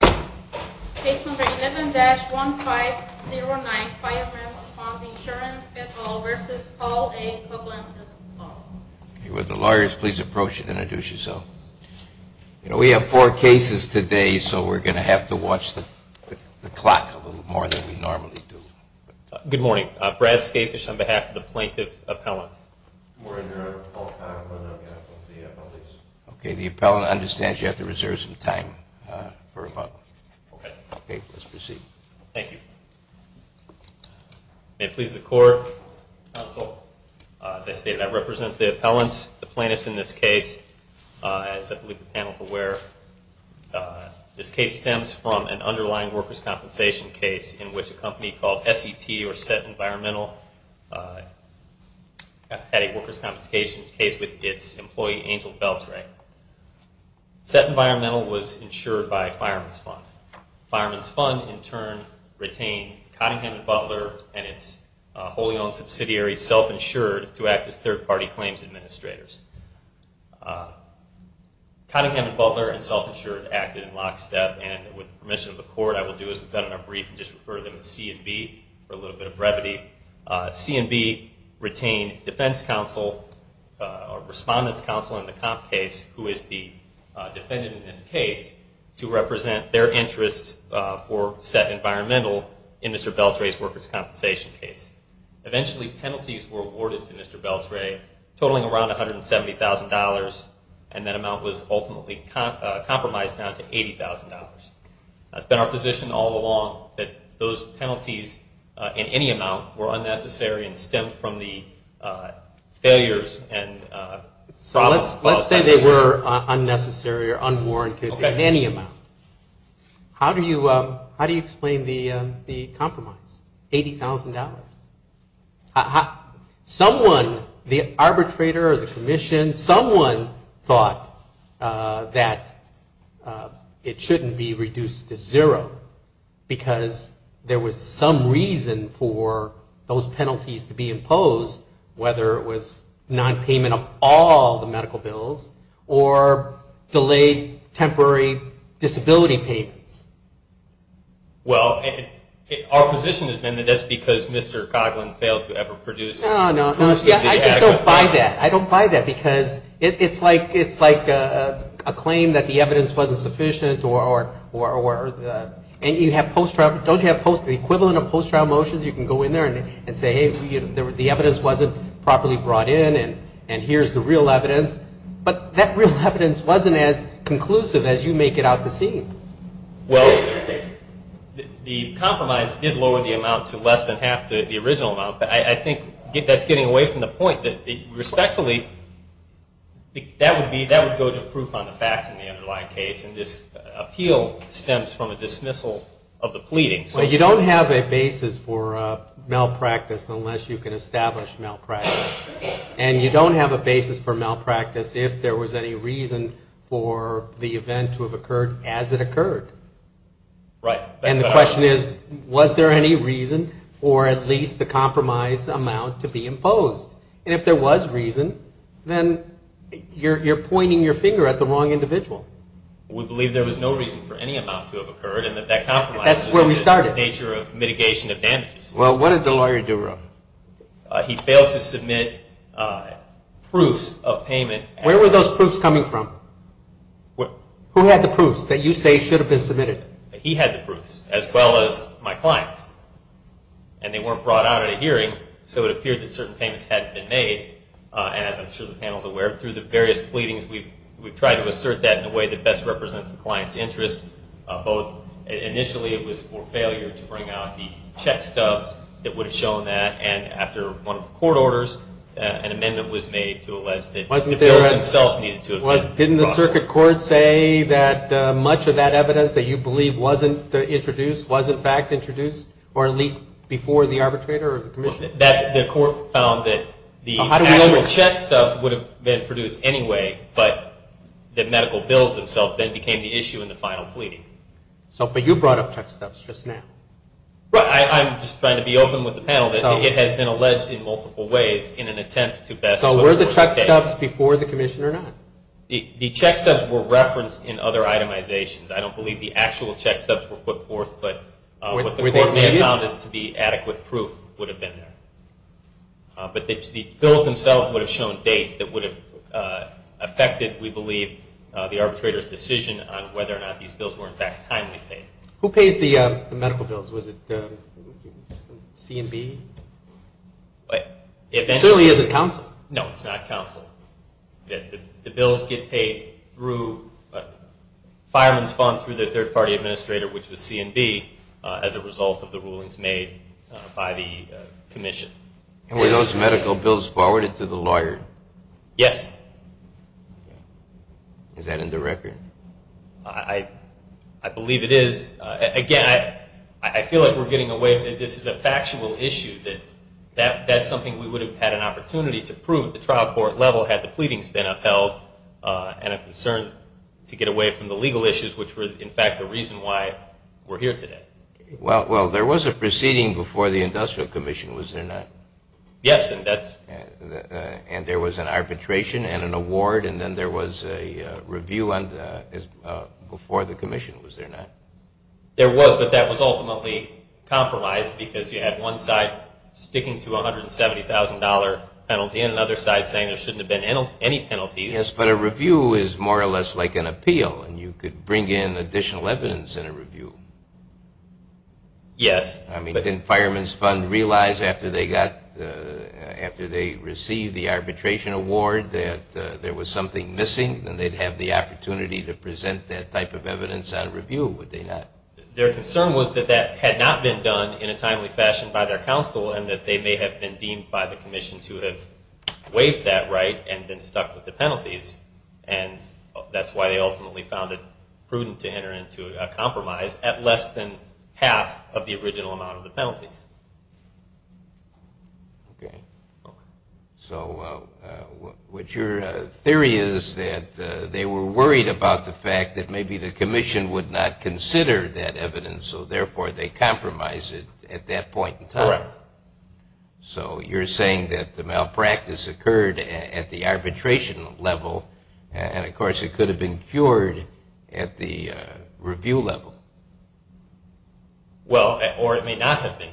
Case number 11-1509, Fireman's Fund Insurance at all versus Paul A. Coghlan at all. Would the lawyers please approach and introduce yourselves. You know, we have four cases today, so we're going to have to watch the clock a little more than we normally do. Good morning. Brad Skafish on behalf of the plaintiff's appellant. Good morning, Your Honor. Paul Coghlan on behalf of the appellant. Okay, the appellant understands you have to reserve some time for a moment. Okay. Okay, please proceed. Thank you. May it please the Court. Counsel, as I stated, I represent the appellants, the plaintiffs in this case. As I believe the panel is aware, this case stems from an underlying workers' compensation case in which a company called SET, or Set Environmental, had a workers' compensation case with its employee, Angel Beltre. SET Environmental was insured by Fireman's Fund. Fireman's Fund, in turn, retained Cottingham & Butler and its wholly-owned subsidiary, Self-Insured, to act as third-party claims administrators. Cottingham & Butler and Self-Insured acted in lockstep, and with the permission of the Court, I will do as we've done in our brief and you can just refer to them as C&B for a little bit of brevity. C&B retained defense counsel or respondent's counsel in the comp case, who is the defendant in this case, to represent their interest for SET Environmental in Mr. Beltre's workers' compensation case. Eventually, penalties were awarded to Mr. Beltre, totaling around $170,000, and that amount was ultimately compromised down to $80,000. It's been our position all along that those penalties, in any amount, were unnecessary and stemmed from the failures. Let's say they were unnecessary or unwarranted in any amount. How do you explain the compromise, $80,000? Someone, the arbitrator or the commission, someone thought that it shouldn't be reduced to zero because there was some reason for those penalties to be imposed, whether it was nonpayment of all the medical bills or delayed temporary disability payments. Well, our position has been that that's because Mr. Coughlin failed to ever produce I just don't buy that. I don't buy that because it's like a claim that the evidence wasn't sufficient. Don't you have the equivalent of post-trial motions? You can go in there and say, hey, the evidence wasn't properly brought in, and here's the real evidence. But that real evidence wasn't as conclusive as you make it out to seem. Well, the compromise did lower the amount to less than half the original amount, but I think that's getting away from the point that, respectfully, that would go to proof on the facts in the underlying case, and this appeal stems from a dismissal of the pleading. Well, you don't have a basis for malpractice unless you can establish malpractice, and you don't have a basis for malpractice if there was any reason for the event to have occurred as it occurred. Right. And the question is, was there any reason for at least the compromise amount to be imposed? And if there was reason, then you're pointing your finger at the wrong individual. We believe there was no reason for any amount to have occurred, and that that compromise is the nature of mitigation of damages. Well, what did the lawyer do, Rob? He failed to submit proofs of payment. Where were those proofs coming from? Who had the proofs that you say should have been submitted? He had the proofs, as well as my clients, and they weren't brought out at a hearing, so it appeared that certain payments hadn't been made, as I'm sure the panel is aware. Through the various pleadings, we've tried to assert that in a way that best represents the client's interest, both initially it was for failure to bring out the check stubs that would have shown that, and after one of the court orders, an amendment was made to allege that the bills themselves needed to have been brought out. Didn't the circuit court say that much of that evidence that you believe wasn't introduced was, in fact, introduced, or at least before the arbitrator or the commissioner? The court found that the actual check stubs would have been produced anyway, but the medical bills themselves then became the issue in the final pleading. But you brought up check stubs just now. I'm just trying to be open with the panel that it has been alleged in multiple ways in an attempt to best put forth the case. Were the check stubs before the commissioner or not? The check stubs were referenced in other itemizations. I don't believe the actual check stubs were put forth, but what the court may have found is to be adequate proof would have been there. But the bills themselves would have shown dates that would have affected, we believe, the arbitrator's decision on whether or not these bills were, in fact, timely paid. Who pays the medical bills? Was it C and B? It certainly isn't counsel. No, it's not counsel. The bills get paid through a fireman's fund through the third-party administrator, which was C and B, as a result of the rulings made by the commission. And were those medical bills forwarded to the lawyer? Yes. Is that in the record? I believe it is. Again, I feel like we're getting away. This is a factual issue. That's something we would have had an opportunity to prove at the trial court level had the pleadings been upheld and a concern to get away from the legal issues, which were, in fact, the reason why we're here today. Well, there was a proceeding before the industrial commission, was there not? Yes. And there was an arbitration and an award, and then there was a review before the commission, was there not? There was, but that was ultimately compromised because you had one side sticking to a $170,000 penalty and another side saying there shouldn't have been any penalties. Yes, but a review is more or less like an appeal, and you could bring in additional evidence in a review. Yes. I mean, didn't Fireman's Fund realize after they received the arbitration award that there was something missing and they'd have the opportunity to present that type of evidence on review, would they not? Their concern was that that had not been done in a timely fashion by their counsel and that they may have been deemed by the commission to have waived that right and been stuck with the penalties, and that's why they ultimately found it prudent to enter into a compromise at less than half of the original amount of the penalties. Okay. So what your theory is that they were worried about the fact that maybe the commission would not consider that evidence, so therefore they compromised it at that point in time. Correct. So you're saying that the malpractice occurred at the arbitration level, and of course it could have been cured at the review level. Well, or it may not have been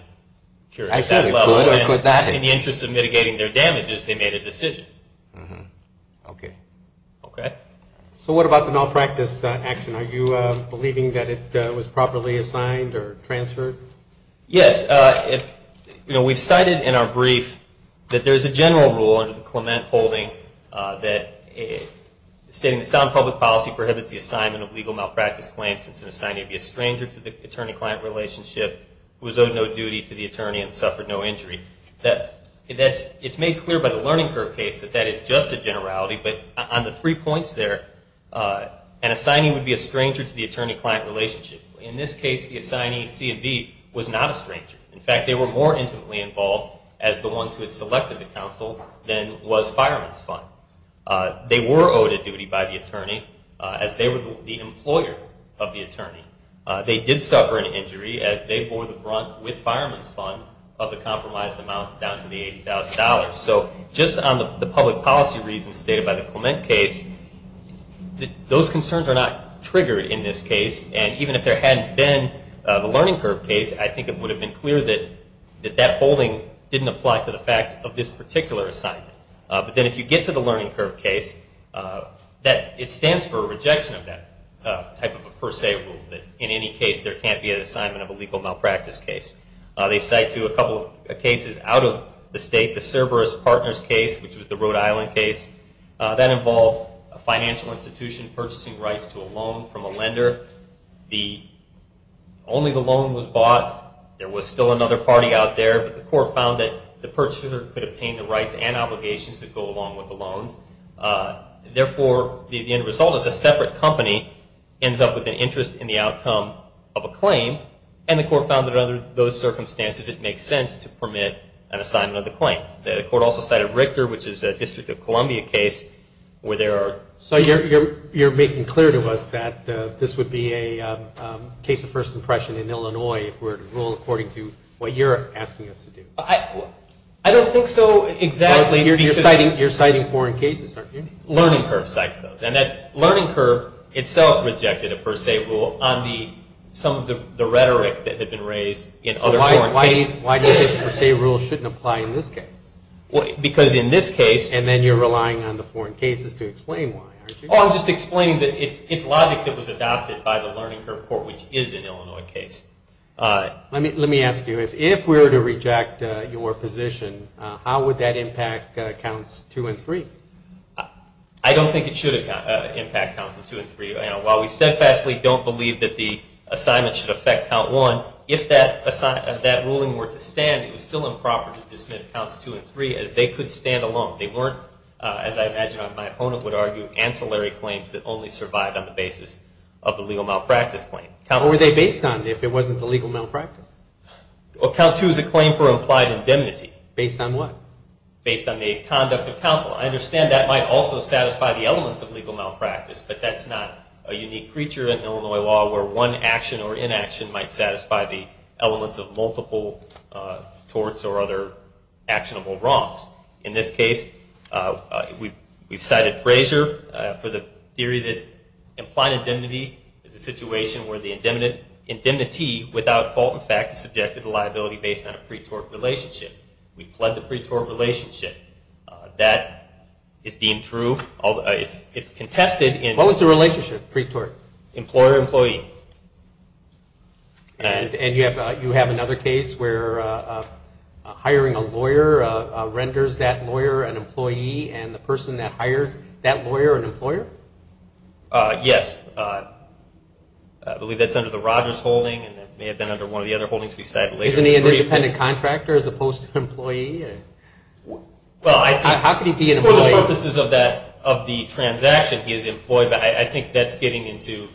cured at that level. I said it could or could not have. In the interest of mitigating their damages, they made a decision. Okay. Okay. So what about the malpractice action? Are you believing that it was properly assigned or transferred? Yes. You know, we've cited in our brief that there's a general rule under the Clement holding that stating that sound public policy prohibits the assignment of legal malpractice claims since an assignee would be a stranger to the attorney-client relationship, was owed no duty to the attorney, and suffered no injury. It's made clear by the Learning Curve case that that is just a generality, but on the three points there, an assignee would be a stranger to the attorney-client relationship. In this case, the assignee, C and B, was not a stranger. In fact, they were more intimately involved as the ones who had selected the counsel than was fireman's fund. They were owed a duty by the attorney as they were the employer of the attorney. They did suffer an injury as they bore the brunt with fireman's fund of the compromised amount down to the $80,000. So just on the public policy reasons stated by the Clement case, those concerns are not triggered in this case, and even if there hadn't been the Learning Curve case, I think it would have been clear that that holding didn't apply to the facts of this particular assignment. But then if you get to the Learning Curve case, it stands for a rejection of that type of a per se rule, that in any case there can't be an assignment of a legal malpractice case. They cite to a couple of cases out of the state, the Cerberus Partners case, which was the Rhode Island case. That involved a financial institution purchasing rights to a loan from a lender. Only the loan was bought. There was still another party out there, but the court found that the purchaser could obtain the rights and obligations that go along with the loans. Therefore, the end result is a separate company ends up with an interest in the outcome of a claim, and the court found that under those circumstances it makes sense to permit an assignment of the claim. The court also cited Richter, which is a District of Columbia case where there are... So you're making clear to us that this would be a case of first impression in Illinois if we were to rule according to what you're asking us to do. I don't think so exactly. You're citing foreign cases, aren't you? Learning Curve cites those, and Learning Curve itself rejected a per se rule on some of the rhetoric that had been raised in other foreign cases. Why do you think per se rules shouldn't apply in this case? Because in this case... And then you're relying on the foreign cases to explain why, aren't you? Oh, I'm just explaining that it's logic that was adopted by the Learning Curve court, which is an Illinois case. Let me ask you this. If we were to reject your position, how would that impact counts two and three? I don't think it should impact counts two and three. While we steadfastly don't believe that the assignment should affect count one, if that ruling were to stand, it was still improper to dismiss counts two and three as they could stand alone. They weren't, as I imagine my opponent would argue, ancillary claims that only survived on the basis of the legal malpractice claim. What were they based on if it wasn't the legal malpractice? Count two is a claim for implied indemnity. Based on what? Based on the conduct of counsel. I understand that might also satisfy the elements of legal malpractice, but that's not a unique creature in Illinois law where one action or inaction might satisfy the elements of multiple torts or other actionable wrongs. In this case, we've cited Fraser for the theory that implied indemnity is a situation where the indemnity, without fault in fact, is subjected to liability based on a pre-tort relationship. We pled the pre-tort relationship. That is deemed true. It's contested. What was the relationship, pre-tort? Employer-employee. And you have another case where hiring a lawyer renders that lawyer an employee and the person that hired that lawyer an employer? Yes. I believe that's under the Rogers holding and it may have been under one of the other holdings we cited later. Isn't he an independent contractor as opposed to an employee? How could he be an employee? For the purposes of the transaction, he is employed. I think that's getting into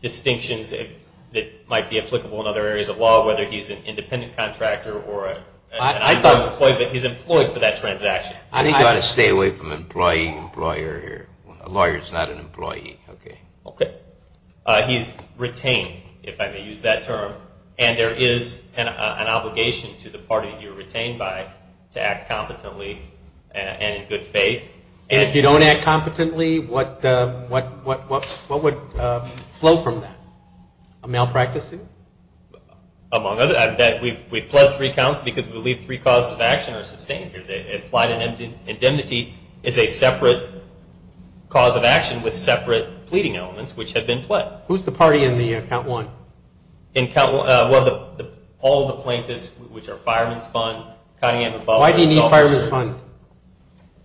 distinctions that might be applicable in other areas of law, whether he's an independent contractor or an employee, but he's employed for that transaction. I think you ought to stay away from employee and employer here. A lawyer is not an employee. Okay. He's retained, if I may use that term, and there is an obligation to the party you're retained by to act competently and in good faith. And if you don't act competently, what would flow from that? Malpracticing? Among other things. We've pled three counts because we believe three causes of action are sustained here. Plied indemnity is a separate cause of action with separate pleading elements, which have been pled. Who's the party in Count 1? All the plaintiffs, which are Fireman's Fund, Cottingham and Butler. Why do you need Fireman's Fund?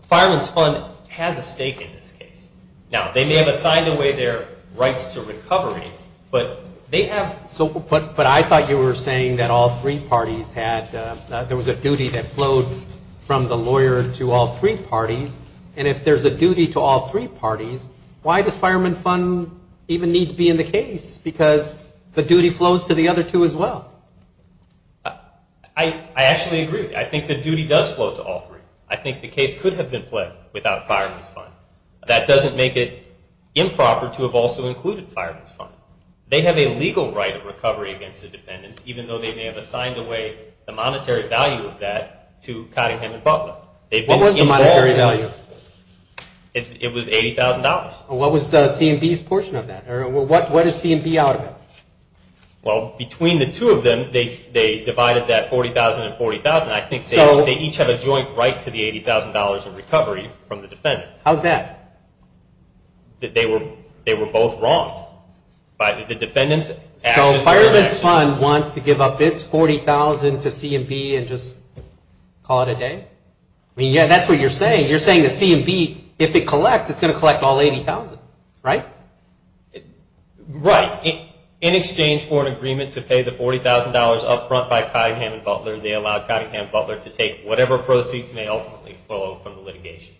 Fireman's Fund has a stake in this case. Now, they may have assigned away their rights to recovery, but they have so put, but I thought you were saying that all three parties had, there was a duty that flowed from the lawyer to all three parties, and if there's a duty to all three parties, why does Fireman Fund even need to be in the case? Because the duty flows to the other two as well. I actually agree with you. I think the duty does flow to all three. I think the case could have been pled without Fireman's Fund. That doesn't make it improper to have also included Fireman's Fund. They have a legal right of recovery against the defendants, even though they may have assigned away the monetary value of that to Cottingham and Butler. What was the monetary value? It was $80,000. What was C&B's portion of that? What is C&B out of it? Well, between the two of them, they divided that $40,000 and $40,000. I think they each have a joint right to the $80,000 of recovery from the defendants. How's that? They were both wrong. The defendants' actions were their actions. So Fireman's Fund wants to give up its $40,000 to C&B and just call it a day? Yeah, that's what you're saying. You're saying that C&B, if it collects, it's going to collect all $80,000, right? Right. In exchange for an agreement to pay the $40,000 up front by Cottingham and Butler, they allow Cottingham and Butler to take whatever proceeds may ultimately flow from the litigation.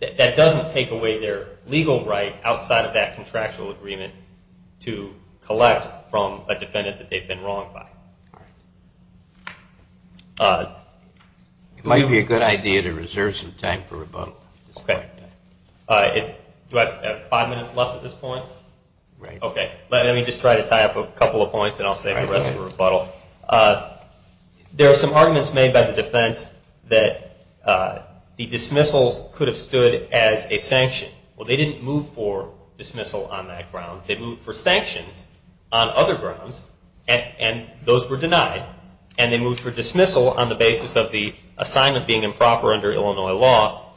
That doesn't take away their legal right outside of that contractual agreement to collect from a defendant that they've been wronged by. All right. It might be a good idea to reserve some time for rebuttal. Okay. Do I have five minutes left at this point? Right. Okay. Let me just try to tie up a couple of points, and I'll save the rest for rebuttal. There are some arguments made by the defense that the dismissals could have stood as a sanction. Well, they didn't move for dismissal on that ground. They moved for sanctions on other grounds, and those were denied. And they moved for dismissal on the basis of the assignment being improper under Illinois law,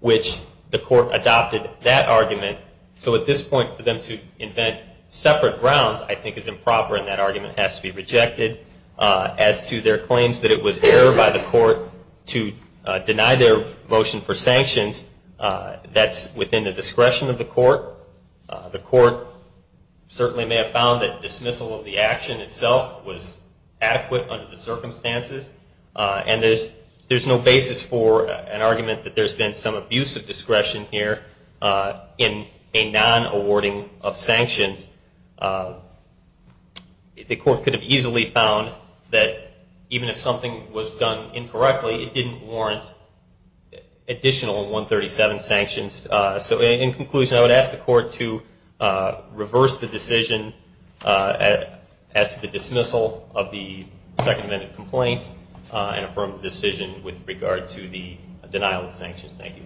which the court adopted that argument. So at this point, for them to invent separate grounds I think is improper, and that argument has to be rejected. As to their claims that it was error by the court to deny their motion for sanctions, that's within the discretion of the court. The court certainly may have found that dismissal of the action itself was adequate under the circumstances, and there's no basis for an argument that there's been some abusive discretion here in a non-awarding of sanctions. The court could have easily found that even if something was done incorrectly, it didn't warrant additional 137 sanctions. So in conclusion, I would ask the court to reverse the decision as to the dismissal of the Second Amendment complaint and affirm the decision with regard to the denial of sanctions. Thank you.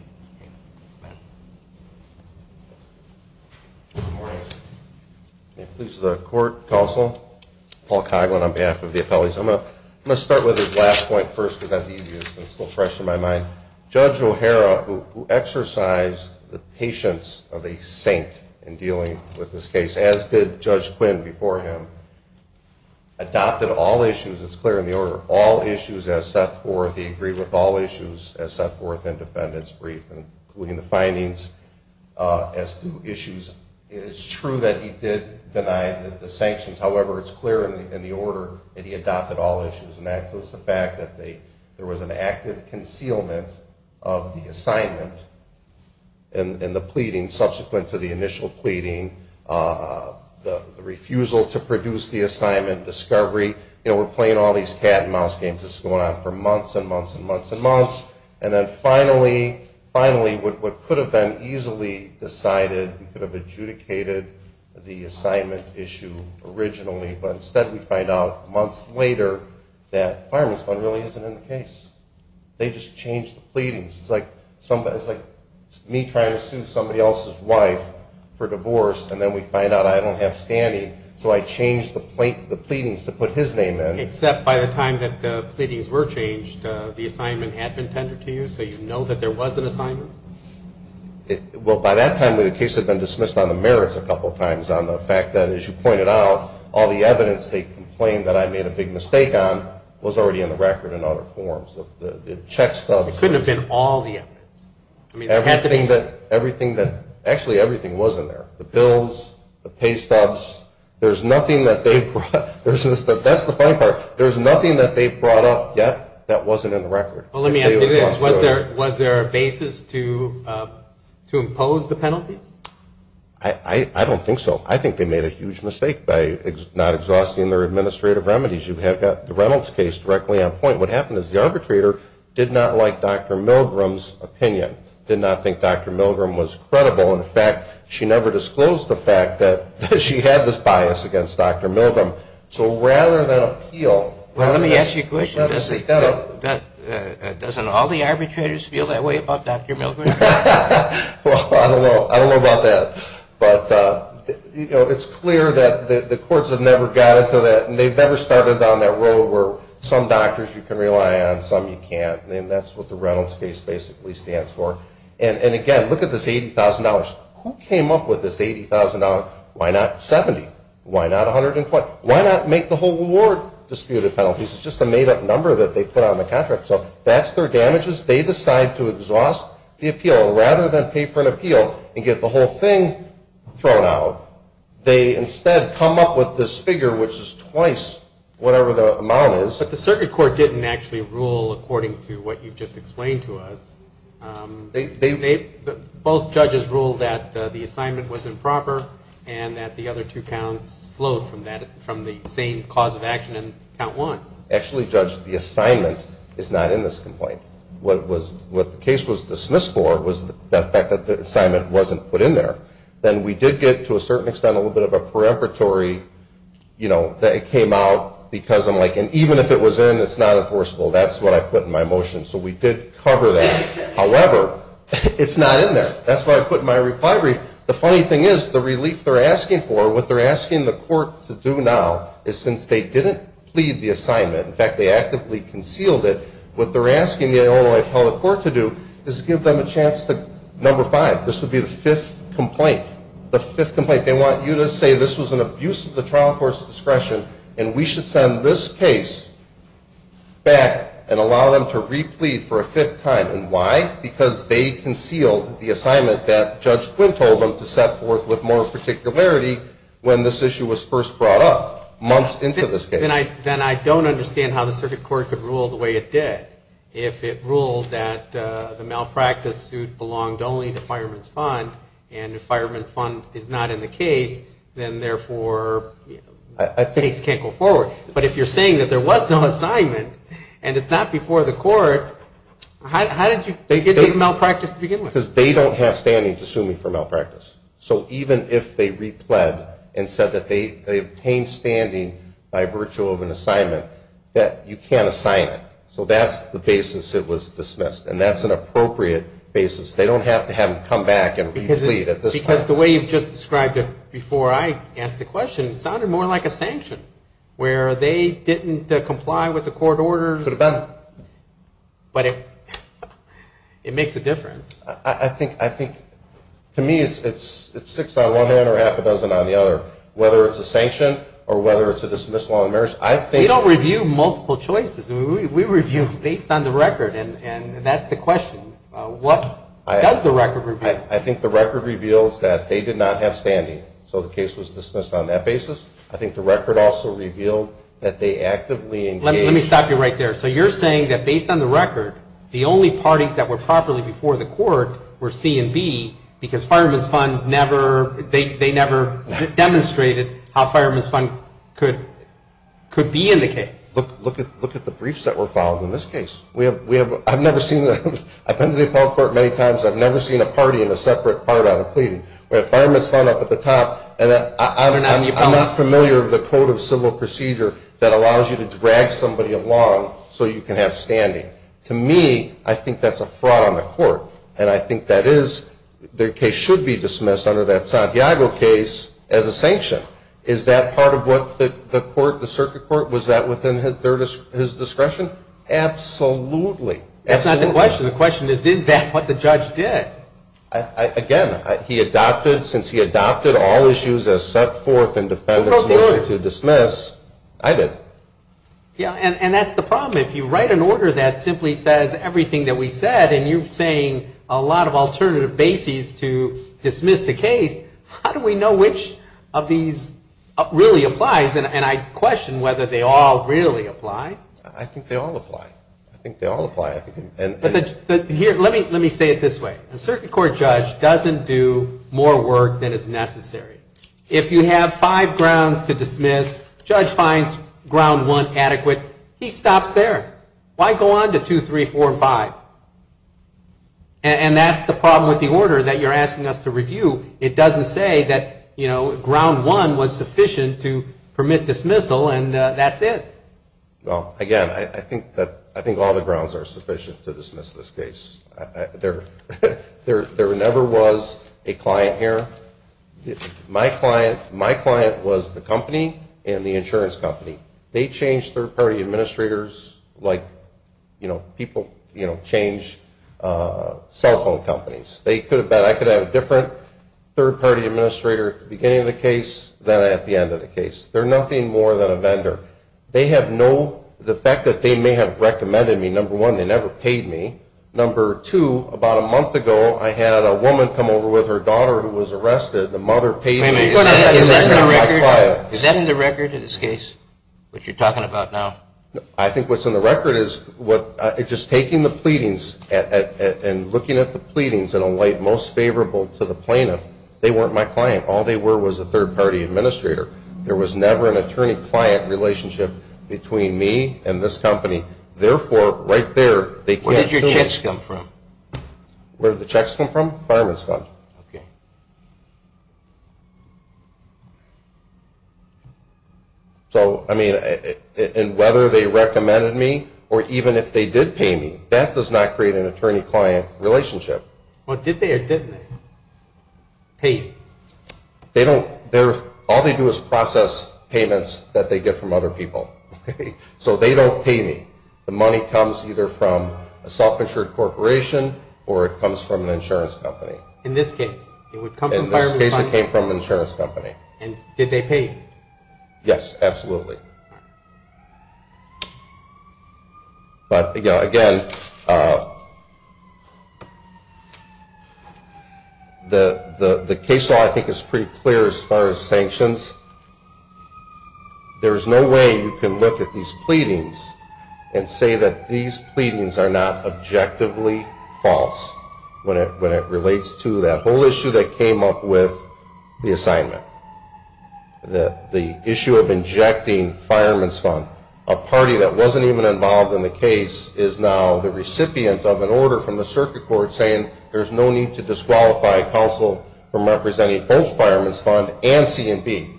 May it please the court, counsel. Paul Coghlan on behalf of the appellees. I'm going to start with his last point first because that's easier. It's a little fresh in my mind. Judge O'Hara, who exercised the patience of a saint in dealing with this case, as did Judge Quinn before him, adopted all issues, it's clear in the order, all issues as set forth. He agreed with all issues as set forth in defendant's brief, including the findings as to issues. It's true that he did deny the sanctions. However, it's clear in the order that he adopted all issues, and that was the fact that there was an active concealment of the assignment and the pleading subsequent to the initial pleading, the refusal to produce the assignment, discovery. You know, we're playing all these cat and mouse games. This is going on for months and months and months and months. And then finally, what could have been easily decided, he could have adjudicated the assignment issue originally, but instead we find out months later that Fireman's Fund really isn't in the case. They just changed the pleadings. It's like me trying to sue somebody else's wife for divorce, and then we find out I don't have standing, so I change the pleadings to put his name in. Except by the time that the pleadings were changed, the assignment had been tendered to you, so you know that there was an assignment? Well, by that time, the case had been dismissed on the merits a couple of times, on the fact that, as you pointed out, all the evidence they complained that I made a big mistake on was already in the record in other forms. The check stubs. It couldn't have been all the evidence. Everything that, actually, everything was in there. The bills, the pay stubs. There's nothing that they've brought. That's the funny part. There's nothing that they've brought up yet that wasn't in the record. Well, let me ask you this. Was there a basis to impose the penalties? I don't think so. I think they made a huge mistake by not exhausting their administrative remedies. You have got the Reynolds case directly on point. What happened is the arbitrator did not like Dr. Milgram's opinion, did not think Dr. Milgram was credible. In fact, she never disclosed the fact that she had this bias against Dr. Milgram. So rather than appeal, rather than say, Well, let me ask you a question. Doesn't all the arbitrators feel that way about Dr. Milgram? Well, I don't know. I don't know about that. But it's clear that the courts have never got into that, and they've never started down that road where some doctors you can rely on, some you can't. And that's what the Reynolds case basically stands for. And, again, look at this $80,000. Who came up with this $80,000? Why not $70,000? Why not $120,000? Why not make the whole award disputed penalties? It's just a made-up number that they put on the contract. So that's their damages. They decide to exhaust the appeal. Rather than pay for an appeal and get the whole thing thrown out, they instead come up with this figure, which is twice whatever the amount is. But the circuit court didn't actually rule according to what you've just explained to us. Both judges ruled that the assignment was improper and that the other two counts flowed from the same cause of action in count one. Actually, Judge, the assignment is not in this complaint. What the case was dismissed for was the fact that the assignment wasn't put in there. Then we did get, to a certain extent, a little bit of a preemptory, you know, that it came out because I'm like, and even if it was in, it's not enforceable. That's what I put in my motion. So we did cover that. However, it's not in there. That's why I put it in my reply brief. The funny thing is, the relief they're asking for, what they're asking the court to do now is since they didn't plead the assignment, in fact, they actively concealed it, what they're asking the Illinois appellate court to do is give them a chance to, number five, this would be the fifth complaint. The fifth complaint. They want you to say this was an abuse of the trial court's discretion and we should send this case back and allow them to replead for a fifth time. And why? Because they concealed the assignment that Judge Quinn told them to set forth with more particularity when this issue was first brought up, months into this case. Then I don't understand how the circuit court could rule the way it did. If it ruled that the malpractice suit belonged only to fireman's fund and the fireman's fund is not in the case, then, therefore, the case can't go forward. But if you're saying that there was no assignment and it's not before the court, how did you get to the malpractice to begin with? Because they don't have standing to sue me for malpractice. So even if they repled and said that they obtained standing by virtue of an assignment, that you can't assign it. So that's the basis it was dismissed. And that's an appropriate basis. They don't have to have them come back and replead at this time. Because the way you've just described it before I asked the question, it sounded more like a sanction where they didn't comply with the court orders. Could have been. But it makes a difference. I think to me it's six on one hand or half a dozen on the other, whether it's a sanction or whether it's a dismissal on the merits. We don't review multiple choices. We review based on the record. And that's the question. What does the record reveal? I think the record reveals that they did not have standing. So the case was dismissed on that basis. I think the record also revealed that they actively engaged. Let me stop you right there. So you're saying that based on the record, the only parties that were properly before the court were C and B because Fireman's Fund never demonstrated how Fireman's Fund could be in the case. Look at the briefs that were filed in this case. I've been to the appellate court many times. I've never seen a party in a separate part on a pleading. We have Fireman's Fund up at the top. So you can have standing. To me, I think that's a fraud on the court. And I think that is, their case should be dismissed under that Santiago case as a sanction. Is that part of what the court, the circuit court, was that within his discretion? Absolutely. That's not the question. The question is, is that what the judge did? Again, he adopted, since he adopted all issues as set forth in defendant's motion to dismiss, I did. Yeah, and that's the problem. If you write an order that simply says everything that we said, and you're saying a lot of alternative bases to dismiss the case, how do we know which of these really applies? And I question whether they all really apply. I think they all apply. I think they all apply. Let me say it this way. A circuit court judge doesn't do more work than is necessary. If you have five grounds to dismiss, judge finds ground one adequate, he stops there. Why go on to two, three, four, five? And that's the problem with the order that you're asking us to review. It doesn't say that, you know, ground one was sufficient to permit dismissal, and that's it. Well, again, I think all the grounds are sufficient to dismiss this case. There never was a client here. My client was the company and the insurance company. They changed third-party administrators like, you know, people change cell phone companies. I could have had a different third-party administrator at the beginning of the case than at the end of the case. They're nothing more than a vendor. The fact that they may have recommended me, number one, they never paid me, number two, about a month ago, I had a woman come over with her daughter who was arrested. The mother paid me. Is that in the record of this case, what you're talking about now? I think what's in the record is just taking the pleadings and looking at the pleadings in a way most favorable to the plaintiff. They weren't my client. All they were was a third-party administrator. There was never an attorney-client relationship between me and this company. Therefore, right there, they can't sue me. Where did your checks come from? Where did the checks come from? Fireman's fund. Okay. So, I mean, and whether they recommended me or even if they did pay me, that does not create an attorney-client relationship. Well, did they or didn't they pay you? They don't. All they do is process payments that they get from other people. So they don't pay me. The money comes either from a self-insured corporation or it comes from an insurance company. In this case, it would come from fireman's fund. In this case, it came from an insurance company. And did they pay you? Yes, absolutely. But, again, the case law, I think, is pretty clear as far as sanctions. There's no way you can look at these pleadings and say that these pleadings are not objectively false when it relates to that whole issue that came up with the assignment, the issue of injecting fireman's fund. A party that wasn't even involved in the case is now the recipient of an order from the circuit court saying there's no need to disqualify counsel from representing both fireman's fund and C&B.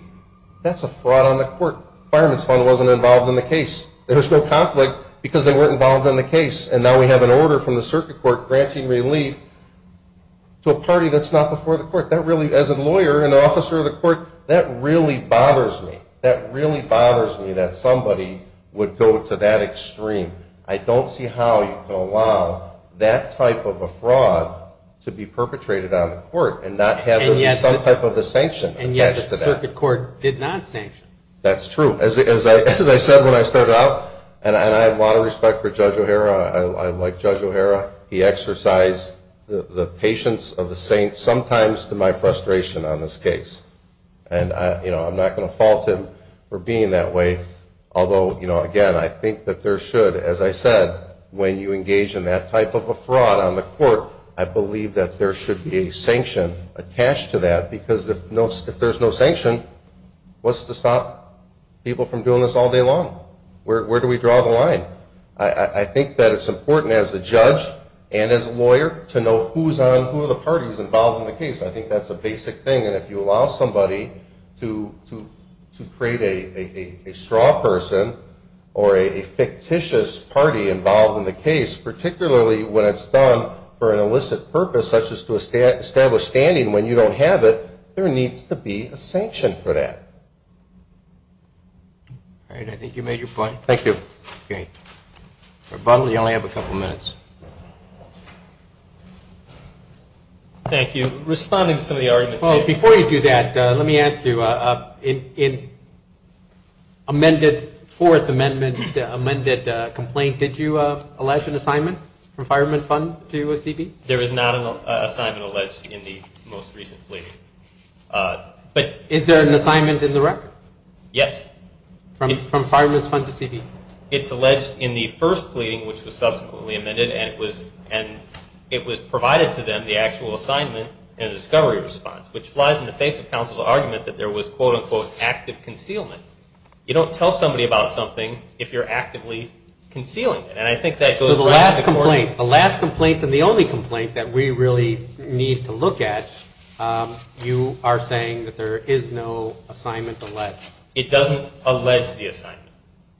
That's a fraud on the court. Fireman's fund wasn't involved in the case. There was no conflict because they weren't involved in the case. And now we have an order from the circuit court granting relief to a party that's not before the court. That really, as a lawyer and an officer of the court, that really bothers me. That really bothers me that somebody would go to that extreme. I don't see how you can allow that type of a fraud to be perpetrated on the court and not have some type of a sanction attached to that. And yet the circuit court did not sanction. That's true. As I said when I started out, and I have a lot of respect for Judge O'Hara, I like Judge O'Hara, he exercised the patience of the saints sometimes to my frustration on this case. And I'm not going to fault him for being that way. Although, again, I think that there should, as I said, when you engage in that type of a fraud on the court, I believe that there should be a sanction attached to that because if there's no sanction, what's to stop people from doing this all day long? Where do we draw the line? I think that it's important as a judge and as a lawyer to know who's on, who are the parties involved in the case. I think that's a basic thing. And if you allow somebody to create a straw person or a fictitious party involved in the case, particularly when it's done for an illicit purpose, such as to establish standing when you don't have it, there needs to be a sanction for that. All right. I think you made your point. Thank you. Okay. Rebuttal, you only have a couple minutes. Thank you. Responding to some of the arguments. Before you do that, let me ask you. In fourth amendment, the amended complaint, did you allege an assignment from Fireman's Fund to CB? There is not an assignment alleged in the most recent plea. Is there an assignment in the record? Yes. From Fireman's Fund to CB? It's alleged in the first pleading, which was subsequently amended, and it was provided to them, the actual assignment, and a discovery response, which lies in the face of counsel's argument that there was, quote, unquote, active concealment. You don't tell somebody about something if you're actively concealing it, and I think that goes back to the court. So the last complaint, the last complaint, and the only complaint that we really need to look at, you are saying that there is no assignment alleged. It doesn't allege the assignment.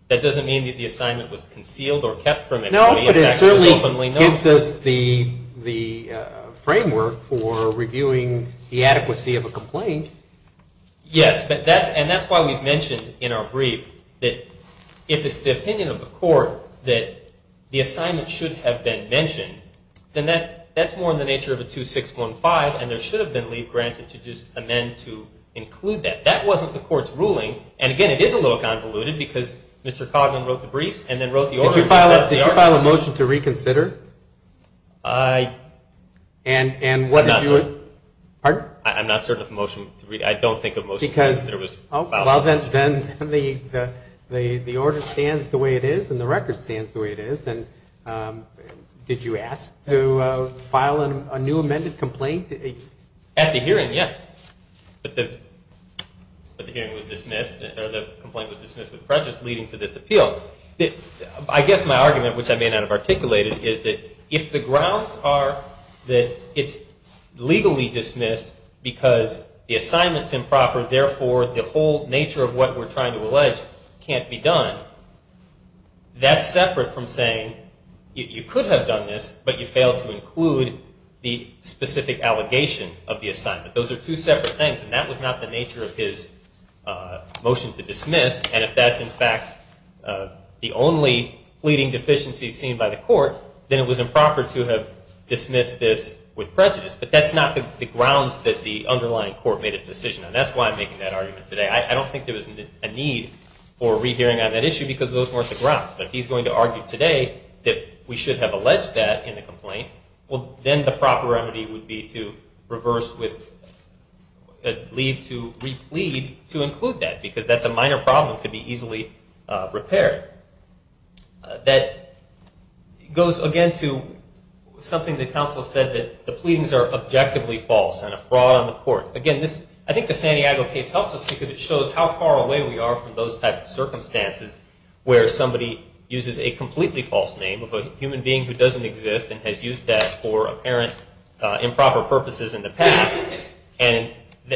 That doesn't mean that the assignment was concealed or kept from everybody. No, but it certainly gives us the framework for reviewing the adequacy of a Yes, and that's why we've mentioned in our brief that if it's the opinion of the court that the assignment should have been mentioned, then that's more in the nature of a 2615, and there should have been leave granted to just amend to include that. That wasn't the court's ruling, and, again, it is a little convoluted because Mr. Cogman wrote the briefs and then wrote the order. Did you file a motion to reconsider? I'm not certain of a motion to reconsider. I don't think a motion to reconsider was filed. Then the order stands the way it is and the record stands the way it is, and did you ask to file a new amended complaint? At the hearing, yes, but the hearing was dismissed or the complaint was dismissed with prejudice leading to this appeal. I guess my argument, which I may not have articulated, is that if the grounds are that it's legally dismissed because the assignment's improper, therefore the whole nature of what we're trying to allege can't be done, that's separate from saying you could have done this, but you failed to include the specific allegation of the assignment. Those are two separate things, and that was not the nature of his motion to dismiss, and if that's, in fact, the only pleading deficiency seen by the court, then it was improper to have dismissed this with prejudice. But that's not the grounds that the underlying court made its decision on. That's why I'm making that argument today. I don't think there was a need for rehearing on that issue because those weren't the grounds, but if he's going to argue today that we should have alleged that in the complaint, well, then the proper remedy would be to reverse with a leave to replead to include that because that's a minor problem that could be easily repaired. That goes, again, to something that counsel said, that the pleadings are objectively false and a fraud on the court. Again, I think the Santiago case helps us because it shows how far away we are from those types of circumstances where somebody uses a completely false name of a human being who doesn't exist and has used that for apparent improper purposes in the past, and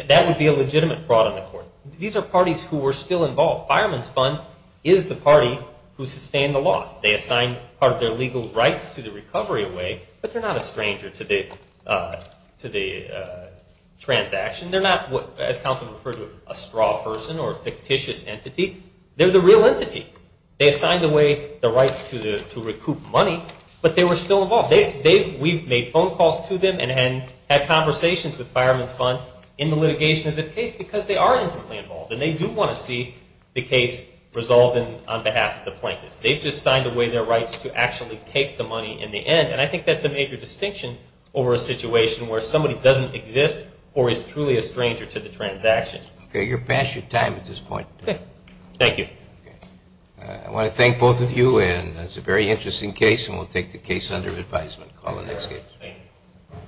that would be a legitimate fraud on the court. These are parties who were still involved. Fireman's Fund is the party who sustained the loss. They assigned part of their legal rights to the recovery away, but they're not a stranger to the transaction. They're not, as counsel referred to, a straw person or a fictitious entity. They're the real entity. They assigned away the rights to recoup money, but they were still involved. We've made phone calls to them and had conversations with Fireman's Fund in the litigation of this case because they are intimately involved and they do want to see the case resolved on behalf of the plaintiffs. They've just signed away their rights to actually take the money in the end, and I think that's a major distinction over a situation where somebody doesn't exist or is truly a stranger to the transaction. Okay. You're past your time at this point. Okay. Thank you. I want to thank both of you, and it's a very interesting case, and we'll take the case under advisement. Call the next case. Thank you.